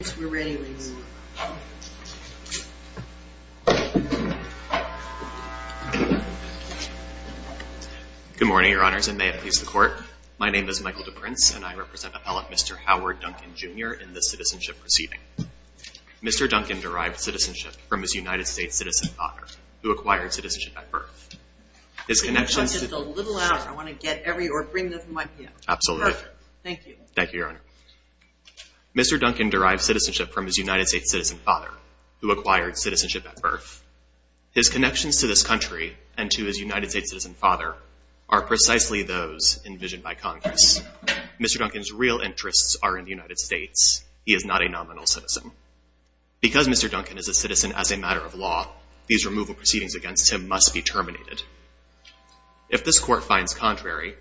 Good morning, Your Honors, and may it please the Court. My name is Michael Duprince, and I represent Appellate Mr. Howard Duncan, Jr. in this citizenship proceeding. Mr. Duncan derived citizenship from his United States citizen father, who acquired citizenship at birth. His connections to- Can you talk just a little louder? I want to get every- or bring this mic here. Absolutely. Perfect. Thank you. Thank you, Your Honor. Mr. Duncan derived citizenship from his United States citizen father, who acquired citizenship at birth. His connections to this country and to his United States citizen father are precisely those envisioned by Congress. Mr. Duncan's real interests are in the United States. He is not a nominal citizen. Because Mr. Duncan is a citizen as a matter of law, these removal proceedings against him must be terminated. If this Court finds contrary,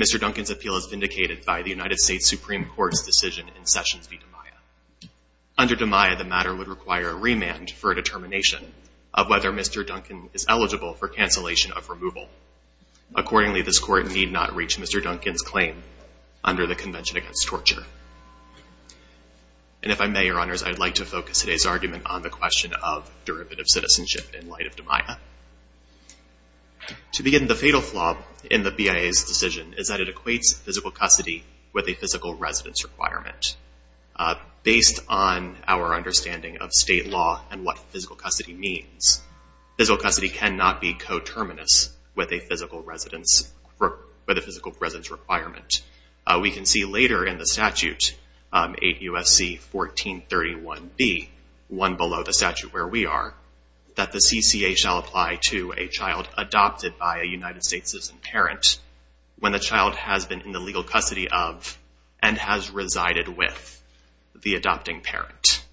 Mr. Duncan's appeal is vindicated by the United States Supreme Court's decision in Sessions v. DiMaia. Under DiMaia, the matter would require a remand for a determination of whether Mr. Duncan is eligible for cancellation of removal. Accordingly, this Court need not reach Mr. Duncan's claim under the Convention Against Torture. And if I may, Your Honors, I'd like to focus today's argument on the question of derivative citizenship in light of DiMaia. To begin, the fatal flaw in the BIA's decision is that it equates physical custody with a physical residence requirement. Based on our understanding of state law and what physical custody means, physical custody cannot be coterminous with a physical residence requirement. We can see later in the statute, 8 U.S.C. 1431b, one below the statute where we are, that the CCA shall apply to a child adopted by a United States citizen parent when the child has been in the legal custody of and has resided with the adopting parent.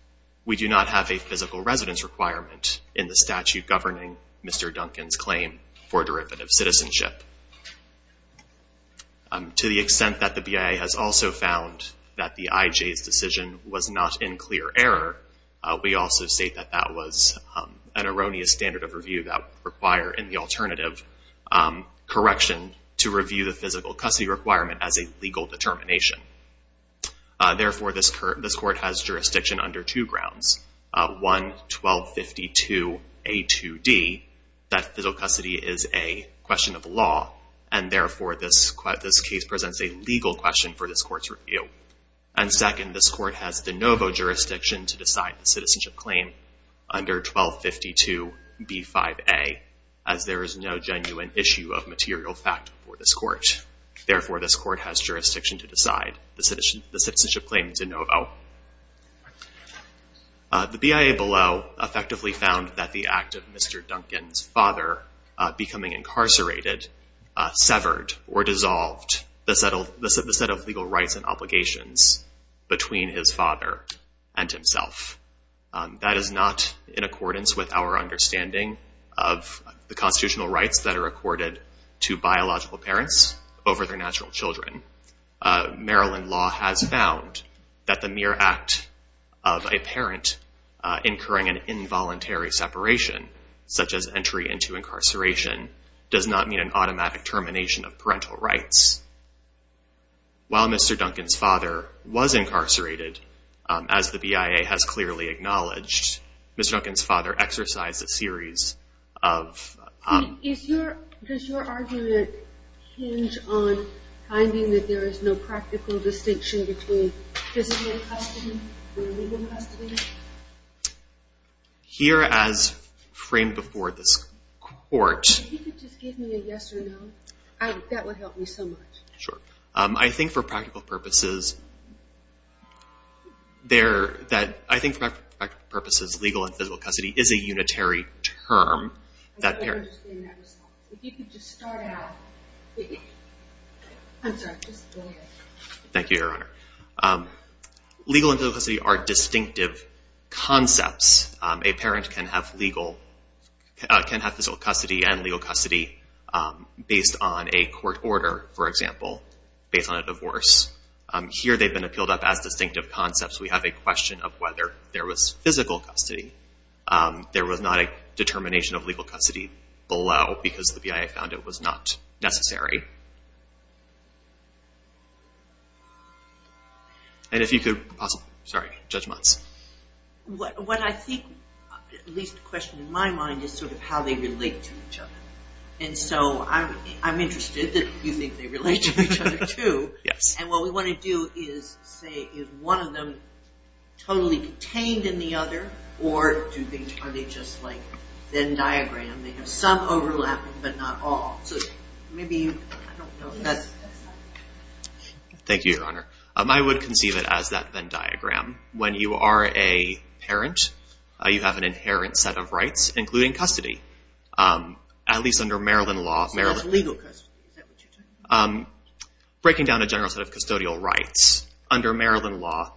We do not have a physical residence requirement in the statute governing Mr. Duncan's claim for derivative citizenship. To the extent that the BIA has also found that the IJ's decision was not in clear error, we also state that that was an erroneous standard of review that would require, in the alternative, correction to review the physical custody requirement as a legal determination. Therefore, this Court has jurisdiction under two grounds, one, 1252a2d, that physical custody is a question of law, and therefore this case presents a legal question for this Court's review. And second, this Court has de novo jurisdiction to decide the citizenship claim under 1252b5a, as there is no genuine issue of material fact for this Court. Therefore, this Court has jurisdiction to decide the citizenship claim de novo. The BIA below effectively found that the act of Mr. Duncan's father becoming incarcerated severed or dissolved the set of legal rights and obligations between his father and himself. That is not in accordance with our understanding of the constitutional rights that are accorded to biological parents over their natural children. Maryland law has found that the mere act of a parent incurring an involuntary separation, such as entry into incarceration, does not mean an automatic termination of parental rights. While Mr. Duncan's father was incarcerated, as the BIA has clearly acknowledged, Mr. Duncan's father exercised a series of... Does your argument hinge on finding that there is no practical distinction between physical custody and legal custody? Here as framed before this Court... If you could just give me a yes or no, that would help me so much. Sure. I think for practical purposes, legal and physical custody is a unitary term that is used to describe a parent. Legal and physical custody are distinctive concepts. A parent can have physical custody and legal custody based on a court order, for example, based on a divorce. Here they've been appealed up as distinctive concepts. We have a question of whether there was physical custody below, because the BIA found it was not necessary. What I think, at least a question in my mind, is how they relate to each other. I'm interested that you think they relate to each other too. What we want to do is say, is one of them totally contained in the other, or are they just like a Venn diagram? They have some overlapping, but not all. Thank you, Your Honor. I would conceive it as that Venn diagram. When you are a parent, you have an inherent set of rights, including custody. At least under Maryland law... That's legal custody. Is that what you're talking about? Breaking down a general set of custodial rights, under Maryland law,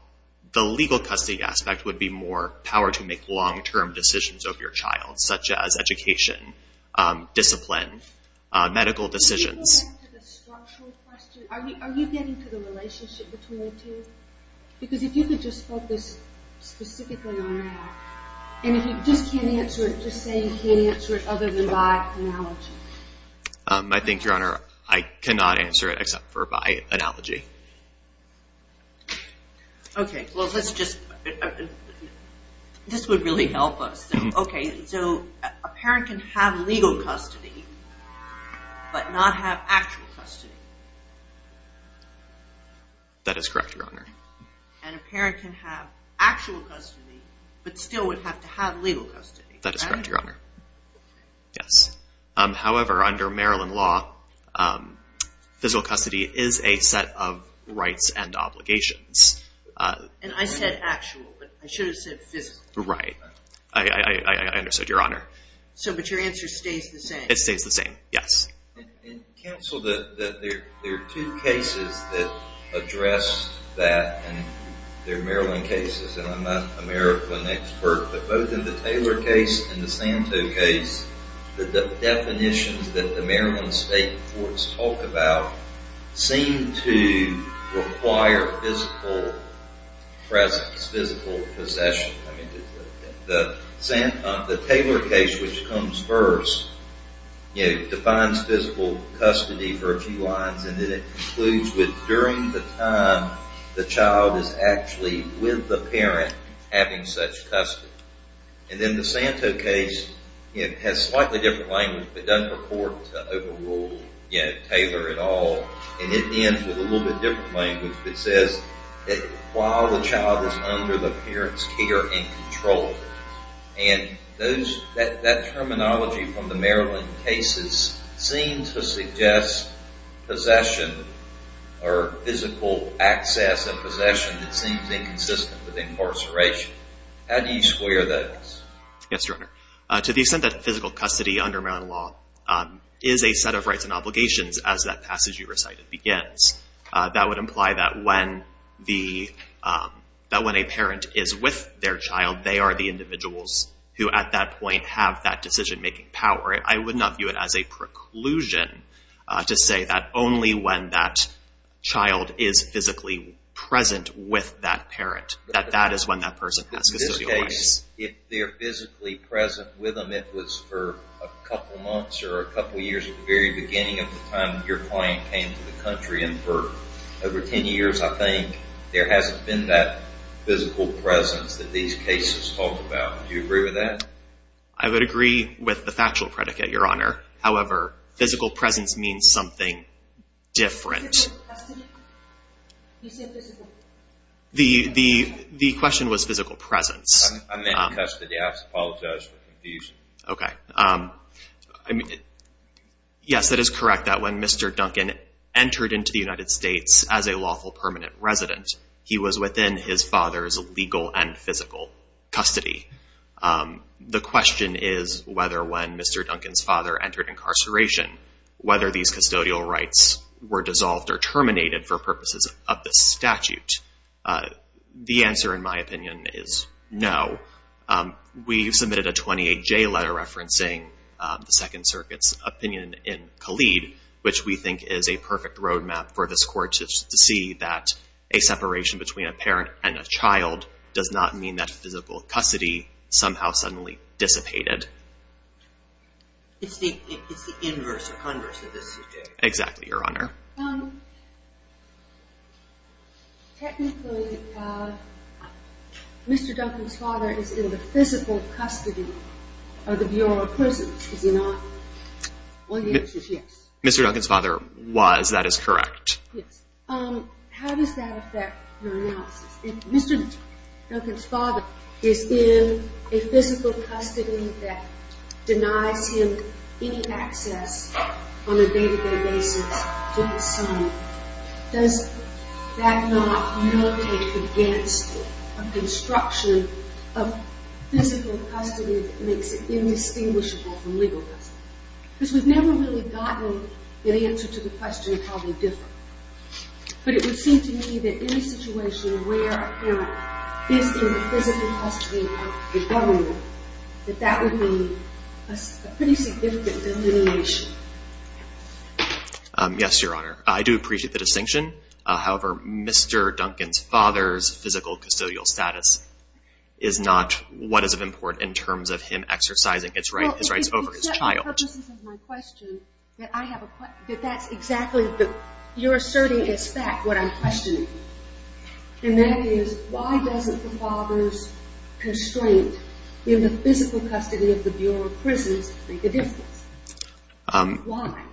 the legal custody aspect would be more power to make long-term decisions over your child, such as education, discipline, medical decisions. Are you getting to the relationship between the two? Because if you could just focus specifically on that, and if you just can't answer it, just say you can't answer it other than by analogy. I think, Your Honor, I cannot answer it except for by analogy. Okay, well let's just... This would really help us. Okay, so a parent can have legal custody, but not have actual custody. That is correct, Your Honor. And a parent can have actual custody, but still would have to have legal custody. That is correct, Your Honor. However, under Maryland law, physical custody is a set of rights and obligations. And I said actual. I should have said physical. Right. I understood, Your Honor. But your answer stays the same? It stays the same, yes. Counsel, there are two cases that address that in their Maryland cases, and I'm not an American expert, but both in the Taylor case and the Santo case, the definitions that the Maryland state courts talk about seem to require physical presence, physical possession. The Taylor case, which comes first, defines physical custody for a few lines, and then it concludes with during the time the child is actually with the parent having such custody. And then the Santo case has slightly different language, but doesn't purport to overrule Taylor at all, and it ends with a little bit different language that says that while the child is under the parent's care and control. And that terminology from the Maryland cases seems to suggest possession or physical access and possession that seems inconsistent with incarceration. How do you square those? Yes, Your Honor. To the extent that physical custody under Maryland law is a set of rights and obligations, as that passage you recited begins, that would imply that when a parent is with their child, they are the individuals who at that point have that decision-making power. I would not view it as a preclusion to say that only when that child is physically present with that parent, that that is when that person has custodial rights. If they're physically present with them, it was for a couple months or a couple years at the very beginning of the time your client came to the country, and for over ten years I think there hasn't been that physical presence that these cases talk about. Do you agree with that? I would agree with the factual predicate, Your Honor. However, physical presence means something different. Physical custody? You said physical... The question was physical presence. I meant custody. I apologize for confusing you. Okay. Yes, that is correct, that when Mr. Duncan entered into the United States as a lawful permanent resident, he was within his father's legal and physical custody. The question is whether when Mr. Duncan's father entered incarceration, whether these custodial rights were dissolved or terminated for purposes of this statute. The answer, in my opinion, is no. We submitted a 28J letter referencing the Second Circuit's opinion in Khalid, which we think is a perfect roadmap for this Court to see that a separation between a parent and a child does not mean that physical custody somehow suddenly dissipated. It's the inverse or converse of this subject. Exactly, Your Honor. Technically, Mr. Duncan's father is in the physical custody of the Bureau of Prisons, is he not? Well, the answer is yes. Mr. Duncan's father was, that is correct. Yes. How does that affect your analysis? If Mr. Duncan's father is in a physical custody that denies him any access on a day-to-day basis to his son, does that not not take the Because we've never really gotten an answer to the question of how they differ. But it would seem to me that in a situation where a parent is in the physical custody of the governor, that that would mean a pretty significant delineation. Yes, Your Honor. I do appreciate the distinction. However, Mr. Duncan's father's physical custodial status is not what is of importance in terms of him exercising his rights over his child. For the purposes of my question, that's exactly what you're asserting is fact, what I'm questioning. And that is, why doesn't the father's constraint in the physical custody of the Bureau of Prisons make a difference? Why?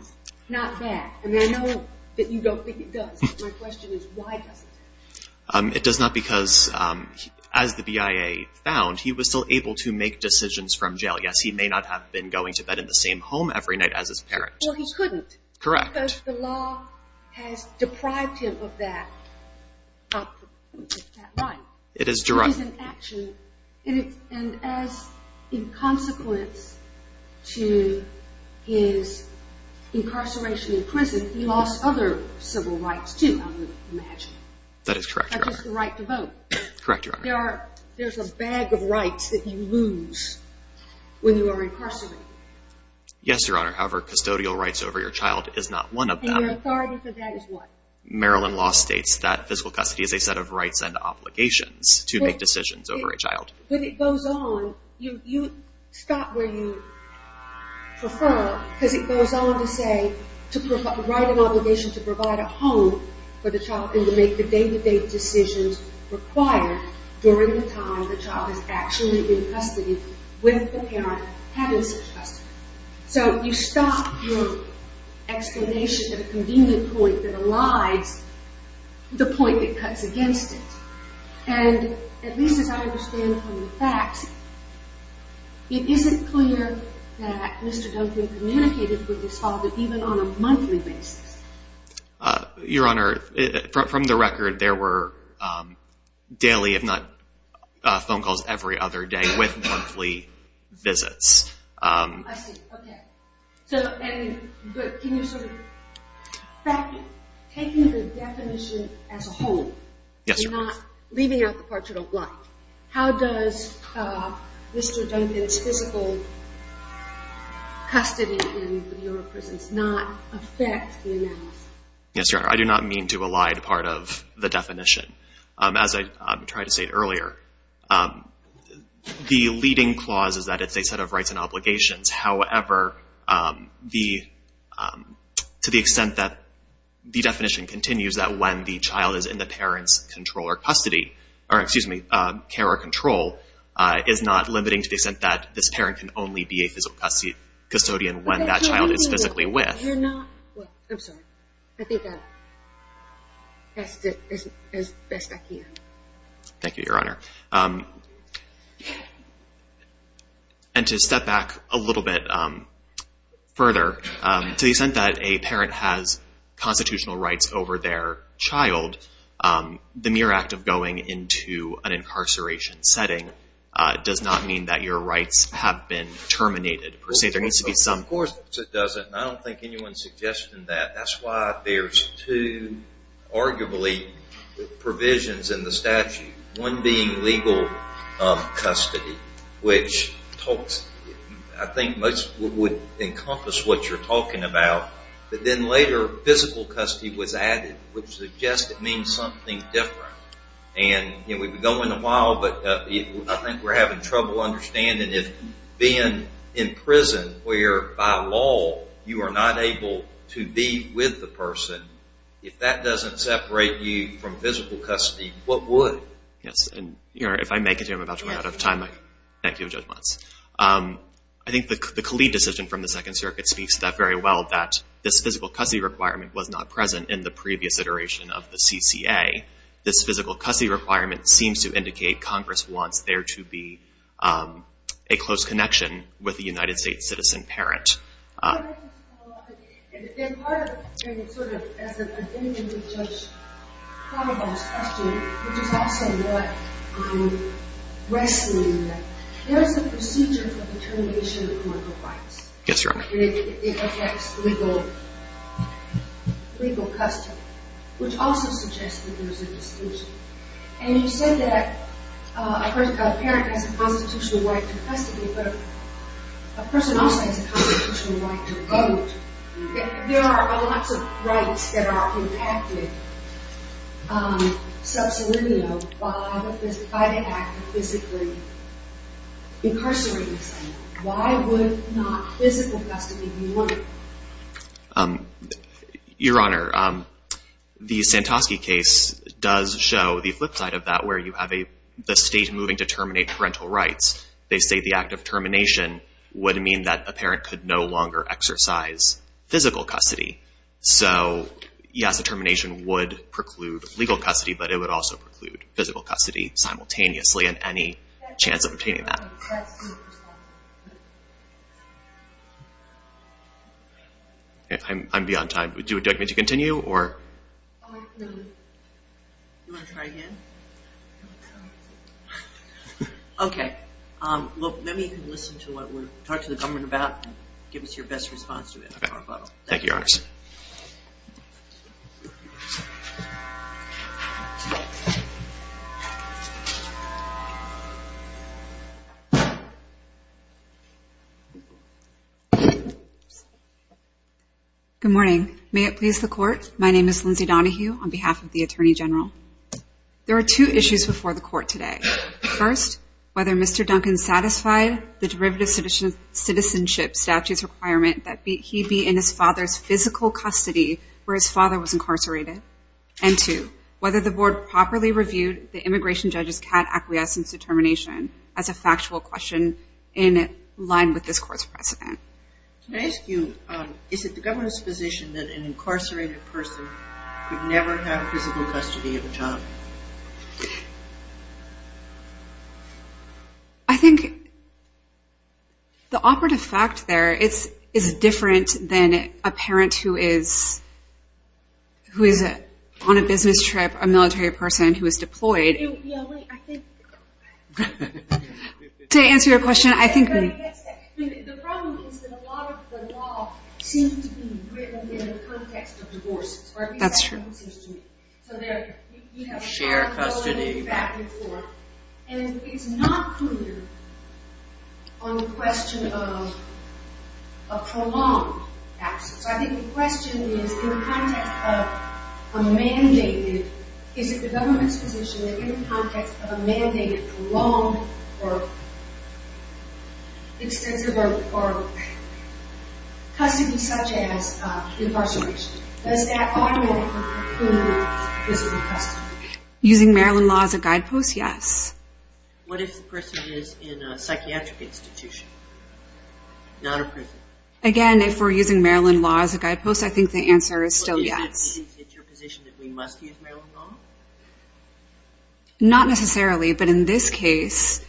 Not that. And I know that you don't think it does. My question is, why doesn't it? It does not because, as the BIA found, he was still able to make decisions from jail. Yes, he may not have been going to bed in the same home every night as his parents. Well, he couldn't. Correct. Because the law has deprived him of that right. It is derived. It is an action. And as a consequence to his incarceration in prison, he lost other civil rights, too, I would imagine. That is correct, Your Honor. Not just the right to vote. Correct, Your Honor. There's a bag of rights that you lose when you are incarcerated. Yes, Your Honor. However, custodial rights over your child is not one of them. And your authority for that is what? Maryland law states that physical custody is a set of rights and obligations to make decisions over a child. When it goes on, you stop where you prefer because it goes on to say, to write an obligation to provide a home for the child and to make the day-to-day decisions required during the time the child has actually been custodied with the parent having such custody. So you stop your explanation at a convenient point that aligns the point that cuts against it. And at least as I understand from the facts, it isn't clear that Mr. Duncan communicated with his father even on a monthly basis. Your Honor, from the record, there were daily, if not phone calls, every other day with monthly visits. I see. Okay. But can you sort of, taking the definition as a whole, leaving out the parts you don't like, how does Mr. Duncan's physical custody in your presence not affect the analysis? Yes, Your Honor. I do not mean to elide part of the definition. As I tried to say earlier, the leading clause is that it's a set of rights and obligations. However, to the extent that the definition continues that when the child is in the parent's control or custody, or excuse me, care or control, is not limiting to the extent that this parent can only be a physical custodian when that child is physically with. I'm sorry. I think that's best I can. Thank you, Your Honor. And to step back a little bit further, to the extent that a parent has constitutional rights over their child, the mere act of going into an incarceration setting does not mean that your rights have been terminated per se. Of course it doesn't. I don't think anyone's suggesting that. That's why there's two, arguably, provisions in the statute. One being legal custody, which I think would encompass what you're talking about. But then later, physical custody was added, which suggests it means something different. And we've been going a while, but I think we're having trouble understanding if being in prison where by law you are not able to be with the person, if that doesn't separate you from physical custody, what would? Yes, and Your Honor, if I make it here, I'm about to run out of time. Thank you for your judgments. I think the Khalid decision from the Second Circuit speaks to that very well, that this physical custody requirement was not present in the previous iteration of the CCA. This physical custody requirement seems to indicate Congress wants there to be a close connection with a United States citizen parent. Can I just follow up? And part of it is sort of as an identity judge thought about this question, which is also what I'm wrestling with. There is a procedure for the termination of immoral rights. Yes, Your Honor. And it affects legal custody, which also suggests that there is a distinction. And you said that a parent has a constitutional right to custody, but a person also has a constitutional right to vote. There are lots of rights that are impacted sub salimio by the act of physically incarcerating someone. Why would not physical custody be warranted? Your Honor, the Santosky case does show the flip side of that, where you have the state moving to terminate parental rights. They say the act of termination would mean that a parent could no longer exercise physical custody. So yes, a termination would preclude legal custody, but it would also preclude physical custody simultaneously and any chance of obtaining that. I'm beyond time. Do you want me to continue? No. Do you want to try again? Okay. Let me listen to what we talked to the government about and give us your best response to it. Thank you, Your Honor. Good morning. May it please the Court. My name is Lindsay Donahue on behalf of the Attorney General. There are two issues before the Court today. First, whether Mr. Duncan satisfied the derivative citizenship statutes requirement that he be in his father's physical custody where his father was incarcerated. And two, whether the Board properly reviewed the immigration judge's CAT acquiescence determination as a factual question in line with this Court's precedent. Can I ask you, is it the government's position that an incarcerated person could never have physical custody of a child? I think the operative fact there is different than a parent who is on a business trip, a military person who is deployed. To answer your question, I think... The problem is that a lot of the law seems to be written in the context of divorces. That's true. So you have a share of custody back and forth. And it's not clear on the question of a prolonged absence. I think the question is in the context of a mandated, is it the government's position that in the context of a mandated, prolonged, or extensive, or custody such as incarceration, does that automatically include physical custody? Using Maryland law as a guidepost, yes. What if the person is in a psychiatric institution, not a prison? Again, if we're using Maryland law as a guidepost, I think the answer is still yes. Do you think it's your position that we must use Maryland law? Not necessarily, but in this case...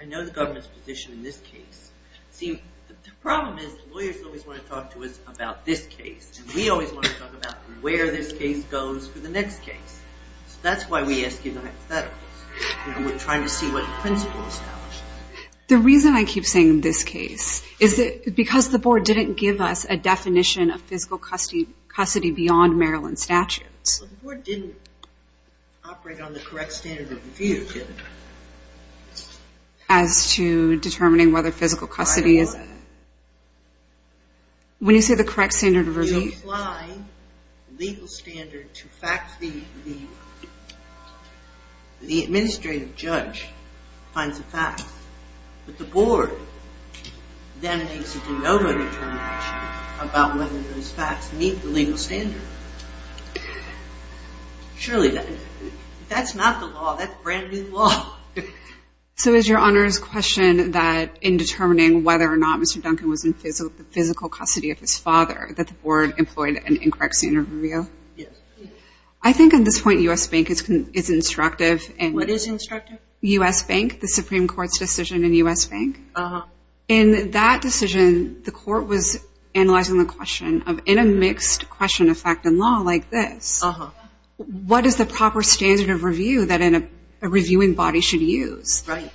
I know the government's position in this case. See, the problem is lawyers always want to talk to us about this case, and we always want to talk about where this case goes for the next case. That's why we ask you the hypotheticals. We're trying to see what principles... The reason I keep saying this case is because the board didn't give us a definition of physical custody beyond Maryland statutes. Well, the board didn't operate on the correct standard of review, did it? As to determining whether physical custody is... When you say the correct standard of review... You apply the legal standard to facts. The administrative judge finds the facts, but the board then makes a de novo determination about whether those facts meet the legal standard. Surely that's not the law. That's brand-new law. So is Your Honor's question that in determining whether or not Mr. Duncan was in physical custody of his father that the board employed an incorrect standard of review? Yes. I think at this point U.S. Bank is instructive in... What is instructive? U.S. Bank, the Supreme Court's decision in U.S. Bank. In that decision, the court was analyzing the question of in a mixed question of fact and law like this, what is the proper standard of review that a reviewing body should use? Right.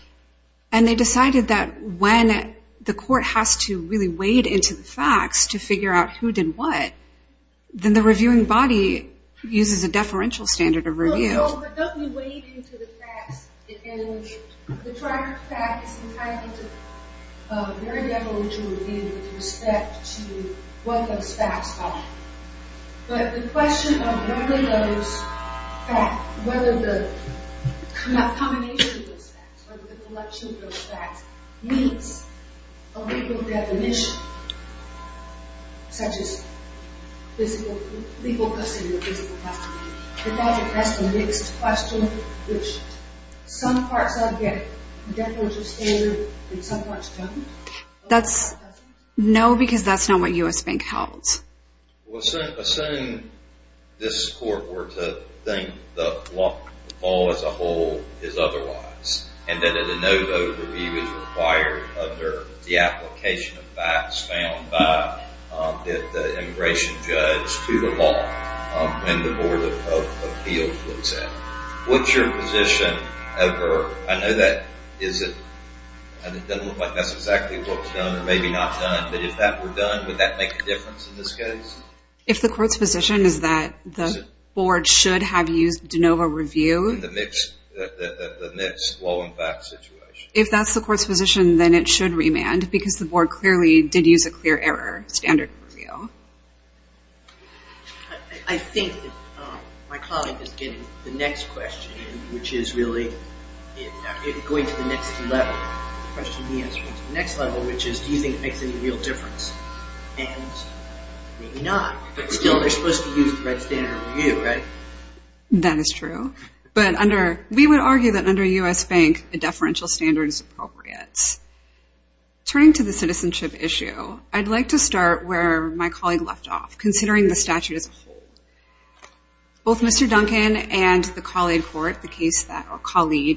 And they decided that when the court has to really wade into the facts to figure out who did what, No, but don't we wade into the facts and the fact is entirely different. There are definitely two reviews with respect to what those facts are. But the question of whether those facts, whether the combination of those facts, whether the collection of those facts meets a legal definition, such as legal custody of a physical custody. Because it has a mixed question, which some parts of it get a definitive standard and some parts don't? No, because that's not what U.S. Bank held. Assuming this court were to think the law as a whole is otherwise, and that a no vote review is required under the application of facts found by the immigration judge to the law, when the Board of Appeals looks at it, what's your position ever? I know that it doesn't look like that's exactly what was done or maybe not done, but if that were done, would that make a difference in this case? If the court's position is that the board should have used de novo review? In the mixed law and facts situation. If that's the court's position, then it should remand, because the board clearly did use a clear error standard of review. I think my colleague is getting the next question, which is really going to the next level. The question he asked was the next level, which is do you think it makes any real difference? And maybe not. But still, they're supposed to use the right standard of review, right? That is true. But we would argue that under U.S. Bank, a deferential standard is appropriate. Turning to the citizenship issue, I'd like to start where my colleague left off, considering the statute as a whole. Both Mr. Duncan and the colleague court, the case that we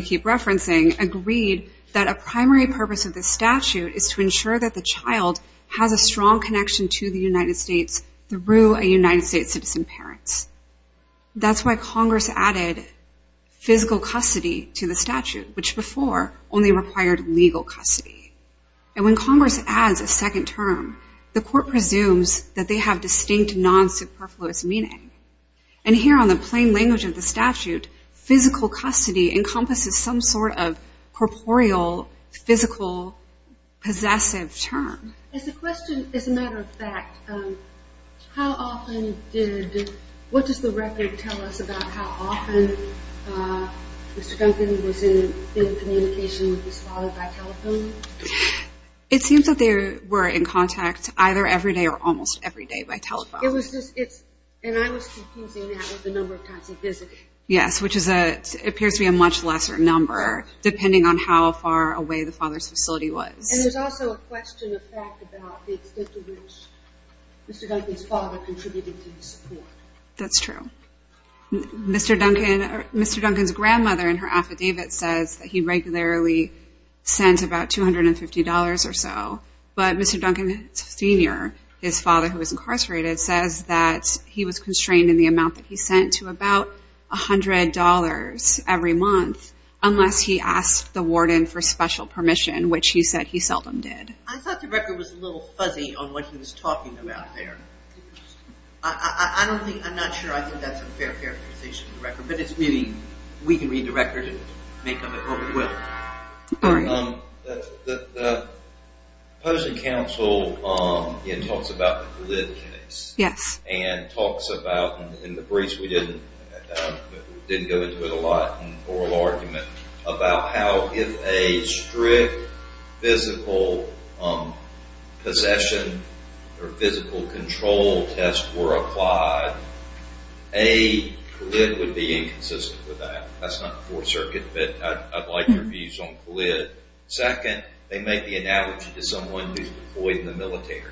keep referencing, agreed that a primary purpose of the statute is to ensure that the child has a strong connection to the United States through a United States citizen parent. That's why Congress added physical custody to the statute, which before only required legal custody. And when Congress adds a second term, the court presumes that they have distinct, non-superfluous meaning. And here on the plain language of the statute, physical custody encompasses some sort of corporeal, physical, possessive term. As a matter of fact, what does the record tell us about how often Mr. Duncan was in communication with his father by telephone? It seems that they were in contact either every day or almost every day by telephone. And I was confusing that with the number of times he visited. Yes, which appears to be a much lesser number, depending on how far away the father's facility was. And there's also a question of fact about the extent to which Mr. Duncan's father contributed to the support. That's true. Mr. Duncan's grandmother in her affidavit says that he regularly sends about $250 or so. But Mr. Duncan Sr., his father who was incarcerated, says that he was constrained in the amount that he sent to about $100 every month unless he asked the warden for special permission, which he said he seldom did. I thought the record was a little fuzzy on what he was talking about there. I don't think, I'm not sure I think that's a fair characterization of the record. But it's really, we can read the record and make up our own will. The opposing counsel talks about the GLID case. Yes. And talks about, and in the briefs we didn't go into it a lot in oral argument, about how if a strict physical possession or physical control test were applied, a GLID would be inconsistent with that. That's not the Fourth Circuit, but I'd like your views on GLID. Second, they make the analogy to someone who's deployed in the military.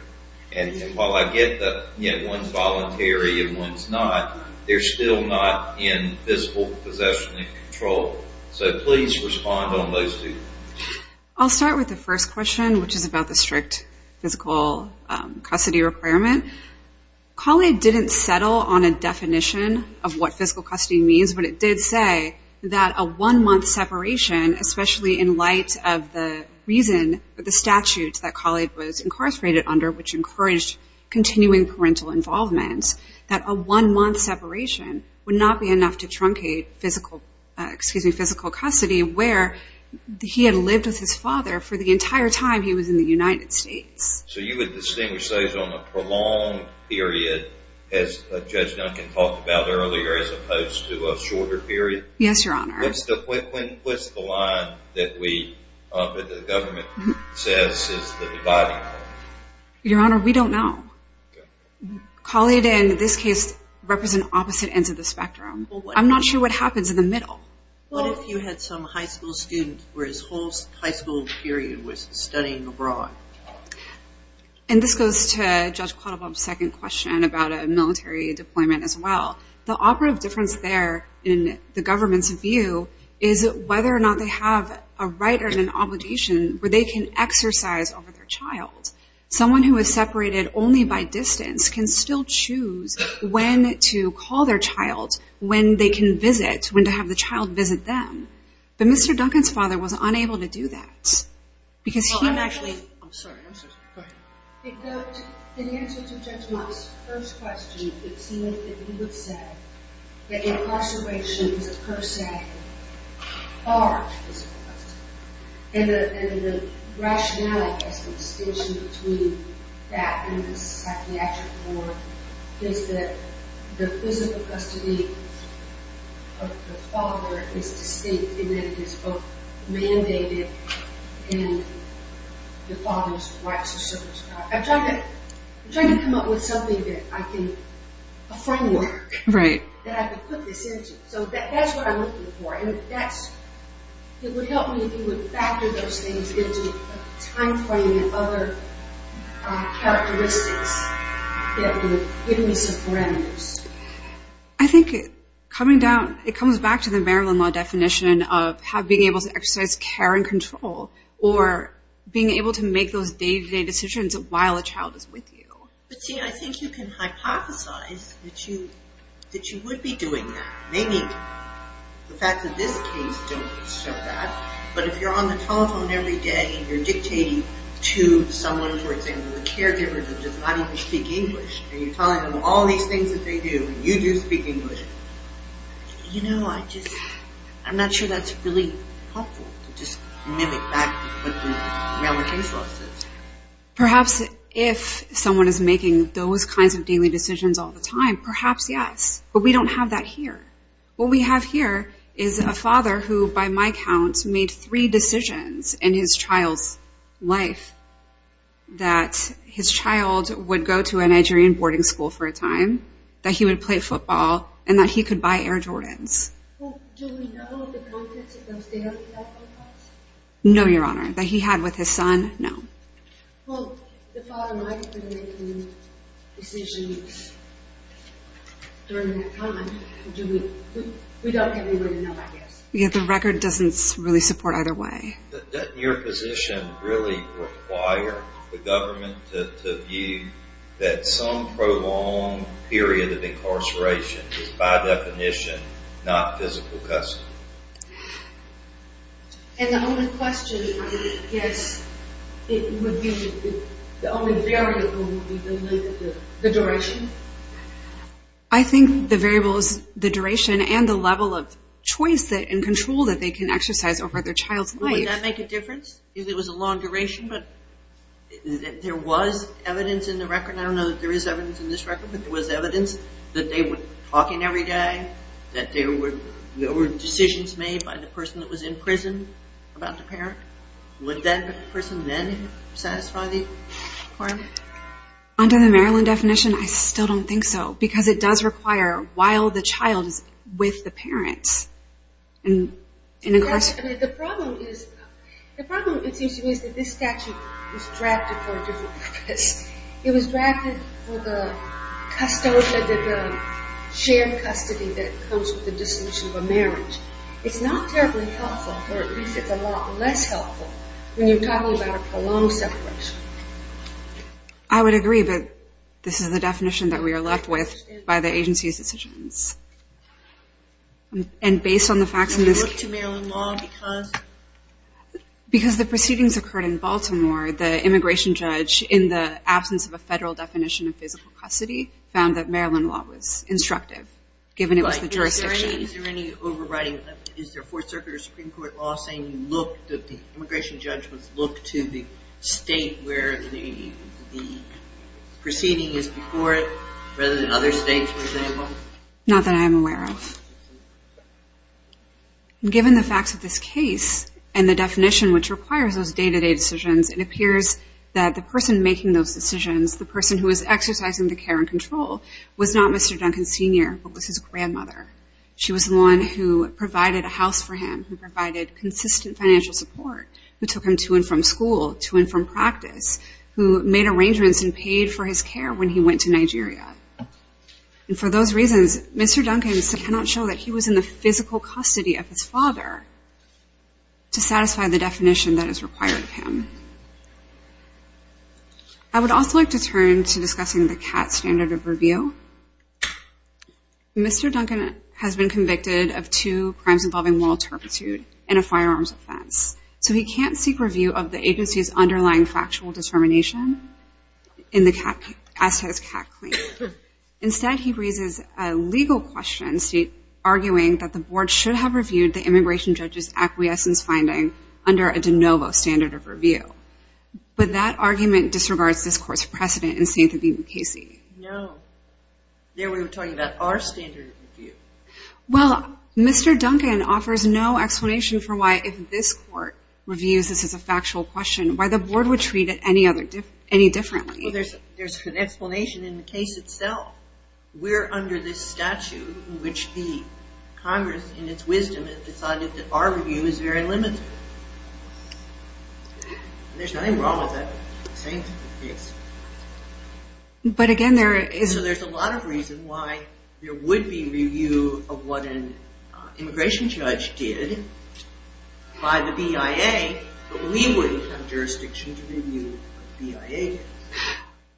And while I get that one's voluntary and one's not, they're still not in physical possession and control. So please respond on those two. I'll start with the first question, which is about the strict physical custody requirement. Colley didn't settle on a definition of what physical custody means, but it did say that a one-month separation, especially in light of the reason that the statute that Colley was incarcerated under, which encouraged continuing parental involvement, that a one-month separation would not be enough to truncate physical custody, where he had lived with his father for the entire time he was in the United States. So you would distinguish those on a prolonged period, as Judge Duncan talked about earlier, as opposed to a shorter period? Yes, Your Honor. What's the line that the government says is the dividing line? Your Honor, we don't know. Colley, in this case, represents opposite ends of the spectrum. I'm not sure what happens in the middle. What if you had some high school student where his whole high school period was studying abroad? And this goes to Judge Quattlebaum's second question about a military deployment as well. The operative difference there, in the government's view, is whether or not they have a right or an obligation where they can exercise over their child. Someone who is separated only by distance can still choose when to call their child, when they can visit, when to have the child visit them. But Mr. Duncan's father was unable to do that, because he actually... I'm sorry. I'm sorry. Go ahead. In answer to Judge Mott's first question, it seemed that he would say that incarceration was a per se, far from physical custody. And the rationality as to the distinction between that and the psychiatric war is that the physical custody of the father is distinct in that it is both mandated and the father's right to serve his child. I'm trying to come up with something that I can... a framework that I can put this into. So that's what I'm looking for. And it would help me if you would factor those things into a timeframe and other characteristics that would give me some parameters. I think it comes back to the Maryland law definition of being able to exercise care and control, or being able to make those day-to-day decisions while a child is with you. But see, I think you can hypothesize that you would be doing that. Maybe the facts of this case don't show that. But if you're on the telephone every day and you're dictating to someone, for example, a caregiver that does not even speak English, and you're telling them all these things that they do, and you do speak English, you know, I just... I'm not sure that's really helpful to just mimic back what the Maryland case law says. Perhaps if someone is making those kinds of daily decisions all the time, perhaps yes. But we don't have that here. What we have here is a father who, by my count, made three decisions in his child's life that his child would go to a Nigerian boarding school for a time, that he would play football, and that he could buy Air Jordans. No, Your Honor. That he had with his son, no. The record doesn't really support either way. I would require the government to view that some prolonged period of incarceration is by definition not physical custody. I think the variable is the duration and the level of choice and control that they can exercise over their child's life. Would that make a difference if it was a long duration, but there was evidence in the record? I don't know that there is evidence in this record, but there was evidence that they were talking every day, that there were decisions made by the person that was in prison about the parent? Would that person then satisfy the requirement? Under the Maryland definition, I still don't think so, because it does require while the child is with the parents in incarceration. The problem is that this statute was drafted for a different purpose. It was drafted for the shared custody that comes with the dissolution of a marriage. It's not terribly helpful, or at least it's a lot less helpful, when you're talking about a prolonged separation. I would agree, but this is the definition that we are left with by the agency's decisions. Do you look to Maryland law because? Because the proceedings occurred in Baltimore, the immigration judge, in the absence of a federal definition of physical custody, found that Maryland law was instructive, given it was the jurisdiction. Is there any overriding? Is there a Fourth Circuit or Supreme Court law saying that the immigration judge must look to the state where the proceeding is before it rather than other states, for example? Not that I am aware of. Given the facts of this case and the definition which requires those day-to-day decisions, it appears that the person making those decisions, the person who was exercising the care and control, was not Mr. Duncan Sr., but was his grandmother. She was the one who provided a house for him, who provided consistent financial support, who took him to and from school, to and from practice, who made arrangements and paid for his care when he went to Nigeria. And for those reasons, Mr. Duncan cannot show that he was in the physical custody of his father to satisfy the definition that is required of him. I would also like to turn to discussing the CAT standard of review. Mr. Duncan has been convicted of two crimes involving moral turpitude and a firearms offense, so he can't seek review of the agency's underlying factual determination as to his CAT claim. Instead, he raises a legal question, arguing that the board should have reviewed the immigration judge's acquiescence finding under a de novo standard of review. But that argument disregards this court's precedent in St. David v. Casey. No. There we were talking about our standard of review. Well, Mr. Duncan offers no explanation for why, if this court reviews this as a factual question, why the board would treat it any differently. Well, there's an explanation in the case itself. We're under this statute in which the Congress, in its wisdom, has decided that our review is very limited. There's nothing wrong with that. But again, there is... So there's a lot of reason why there would be review of what an immigration judge did by the BIA, but we wouldn't have jurisdiction to review the BIA.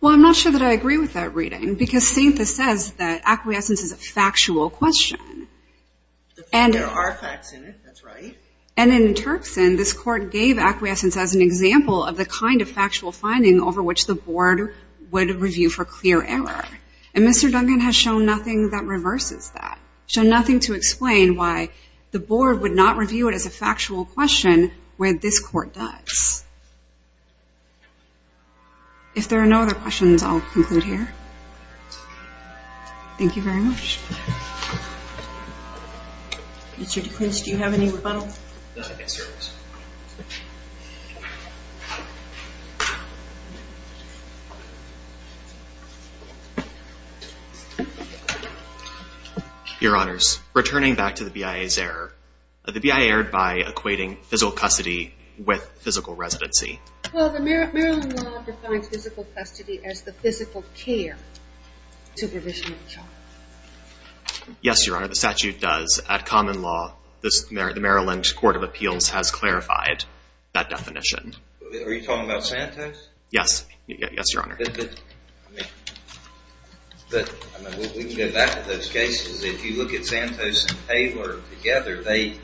Well, I'm not sure that I agree with that reading, because Stathis says that acquiescence is a factual question. There are facts in it. That's right. And in Turkson, this court gave acquiescence as an example of the kind of factual finding over which the board would review for clear error. And Mr. Duncan has shown nothing that reverses that, shown nothing to explain why the board would not review it as a factual question where this court does. If there are no other questions, I'll conclude here. Thank you very much. Mr. DeQuince, do you have any rebuttal? Yes, Your Honor. Your Honors, returning back to the BIA's error, the BIA erred by equating physical custody with physical residency. Well, the Maryland law defines physical custody as the physical care, supervision of child. Yes, Your Honor, the statute does. At common law, the Maryland Court of Appeals has clarified that definition. Are you talking about Santos? Yes. Yes, Your Honor. We can go back to those cases. If you look at Santos and Taylor together, it's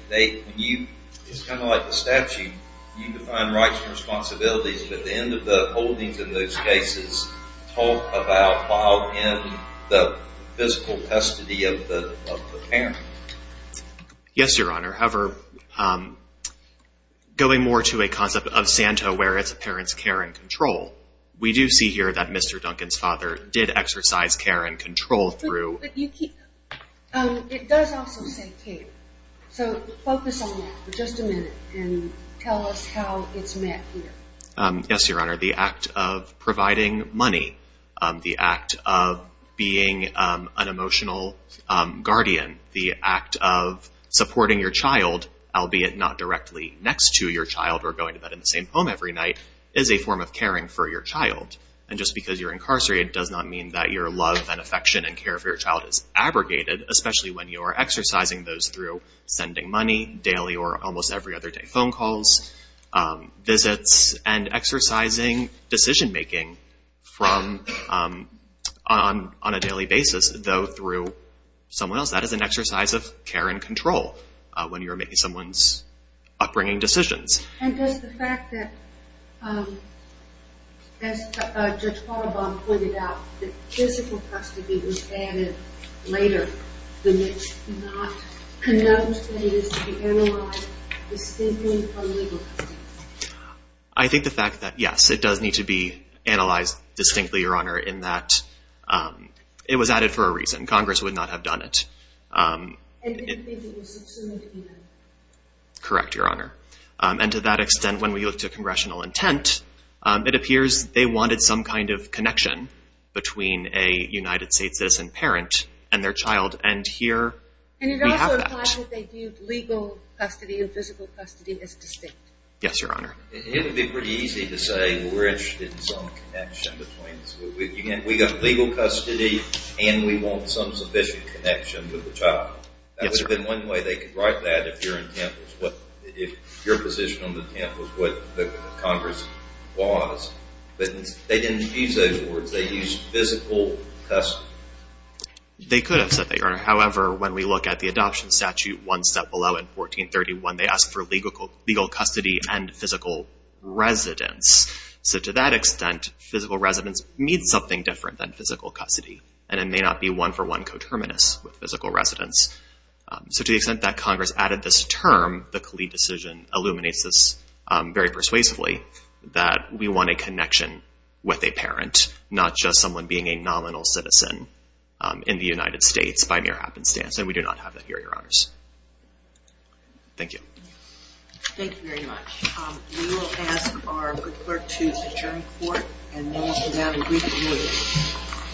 kind of like the statute. You define rights and responsibilities, but the end of the holdings in those cases talk about fall in the physical custody of the parent. Yes, Your Honor. However, going more to a concept of Santos where it's a parent's care and control, we do see here that Mr. Duncan's father did exercise care and control through— But you keep—it does also say care. So focus on that for just a minute and tell us how it's met here. Yes, Your Honor. The act of providing money, the act of being an emotional guardian, the act of supporting your child, albeit not directly next to your child or going to bed in the same home every night, is a form of caring for your child. And just because you're incarcerated does not mean that your love and affection and care for your child is abrogated, especially when you are exercising those through sending money daily or almost every other day, phone calls, visits, and exercising decision-making on a daily basis, though through someone else. And that is an exercise of care and control when you're making someone's upbringing decisions. And does the fact that, as Judge Qualabong pointed out, that physical custody was added later, does it not connote that it is to be analyzed distinctly from legal custody? I think the fact that, yes, it does need to be analyzed distinctly, Your Honor, in that it was added for a reason. Congress would not have done it. And didn't think it was subsumed in. Correct, Your Honor. And to that extent, when we look to congressional intent, it appears they wanted some kind of connection between a United States citizen parent and their child. And here we have that. And it also implies that they viewed legal custody and physical custody as distinct. Yes, Your Honor. It would be pretty easy to say we're interested in some connection between We got legal custody and we want some sufficient connection with the child. That would have been one way they could write that if your intent was what, if your position on the intent was what the Congress was. But they didn't use those words. They used physical custody. They could have said that, Your Honor. However, when we look at the adoption statute, one step below in 1431, they asked for legal custody and physical residence. So to that extent, physical residence means something different than physical custody. And it may not be one-for-one coterminous with physical residence. So to the extent that Congress added this term, the Khalid decision illuminates this very persuasively, that we want a connection with a parent, not just someone being a nominal citizen in the United States by mere happenstance. And we do not have that here, Your Honors. Thank you. Thank you very much. We will ask our clerk to adjourn the court. And we will have a brief break.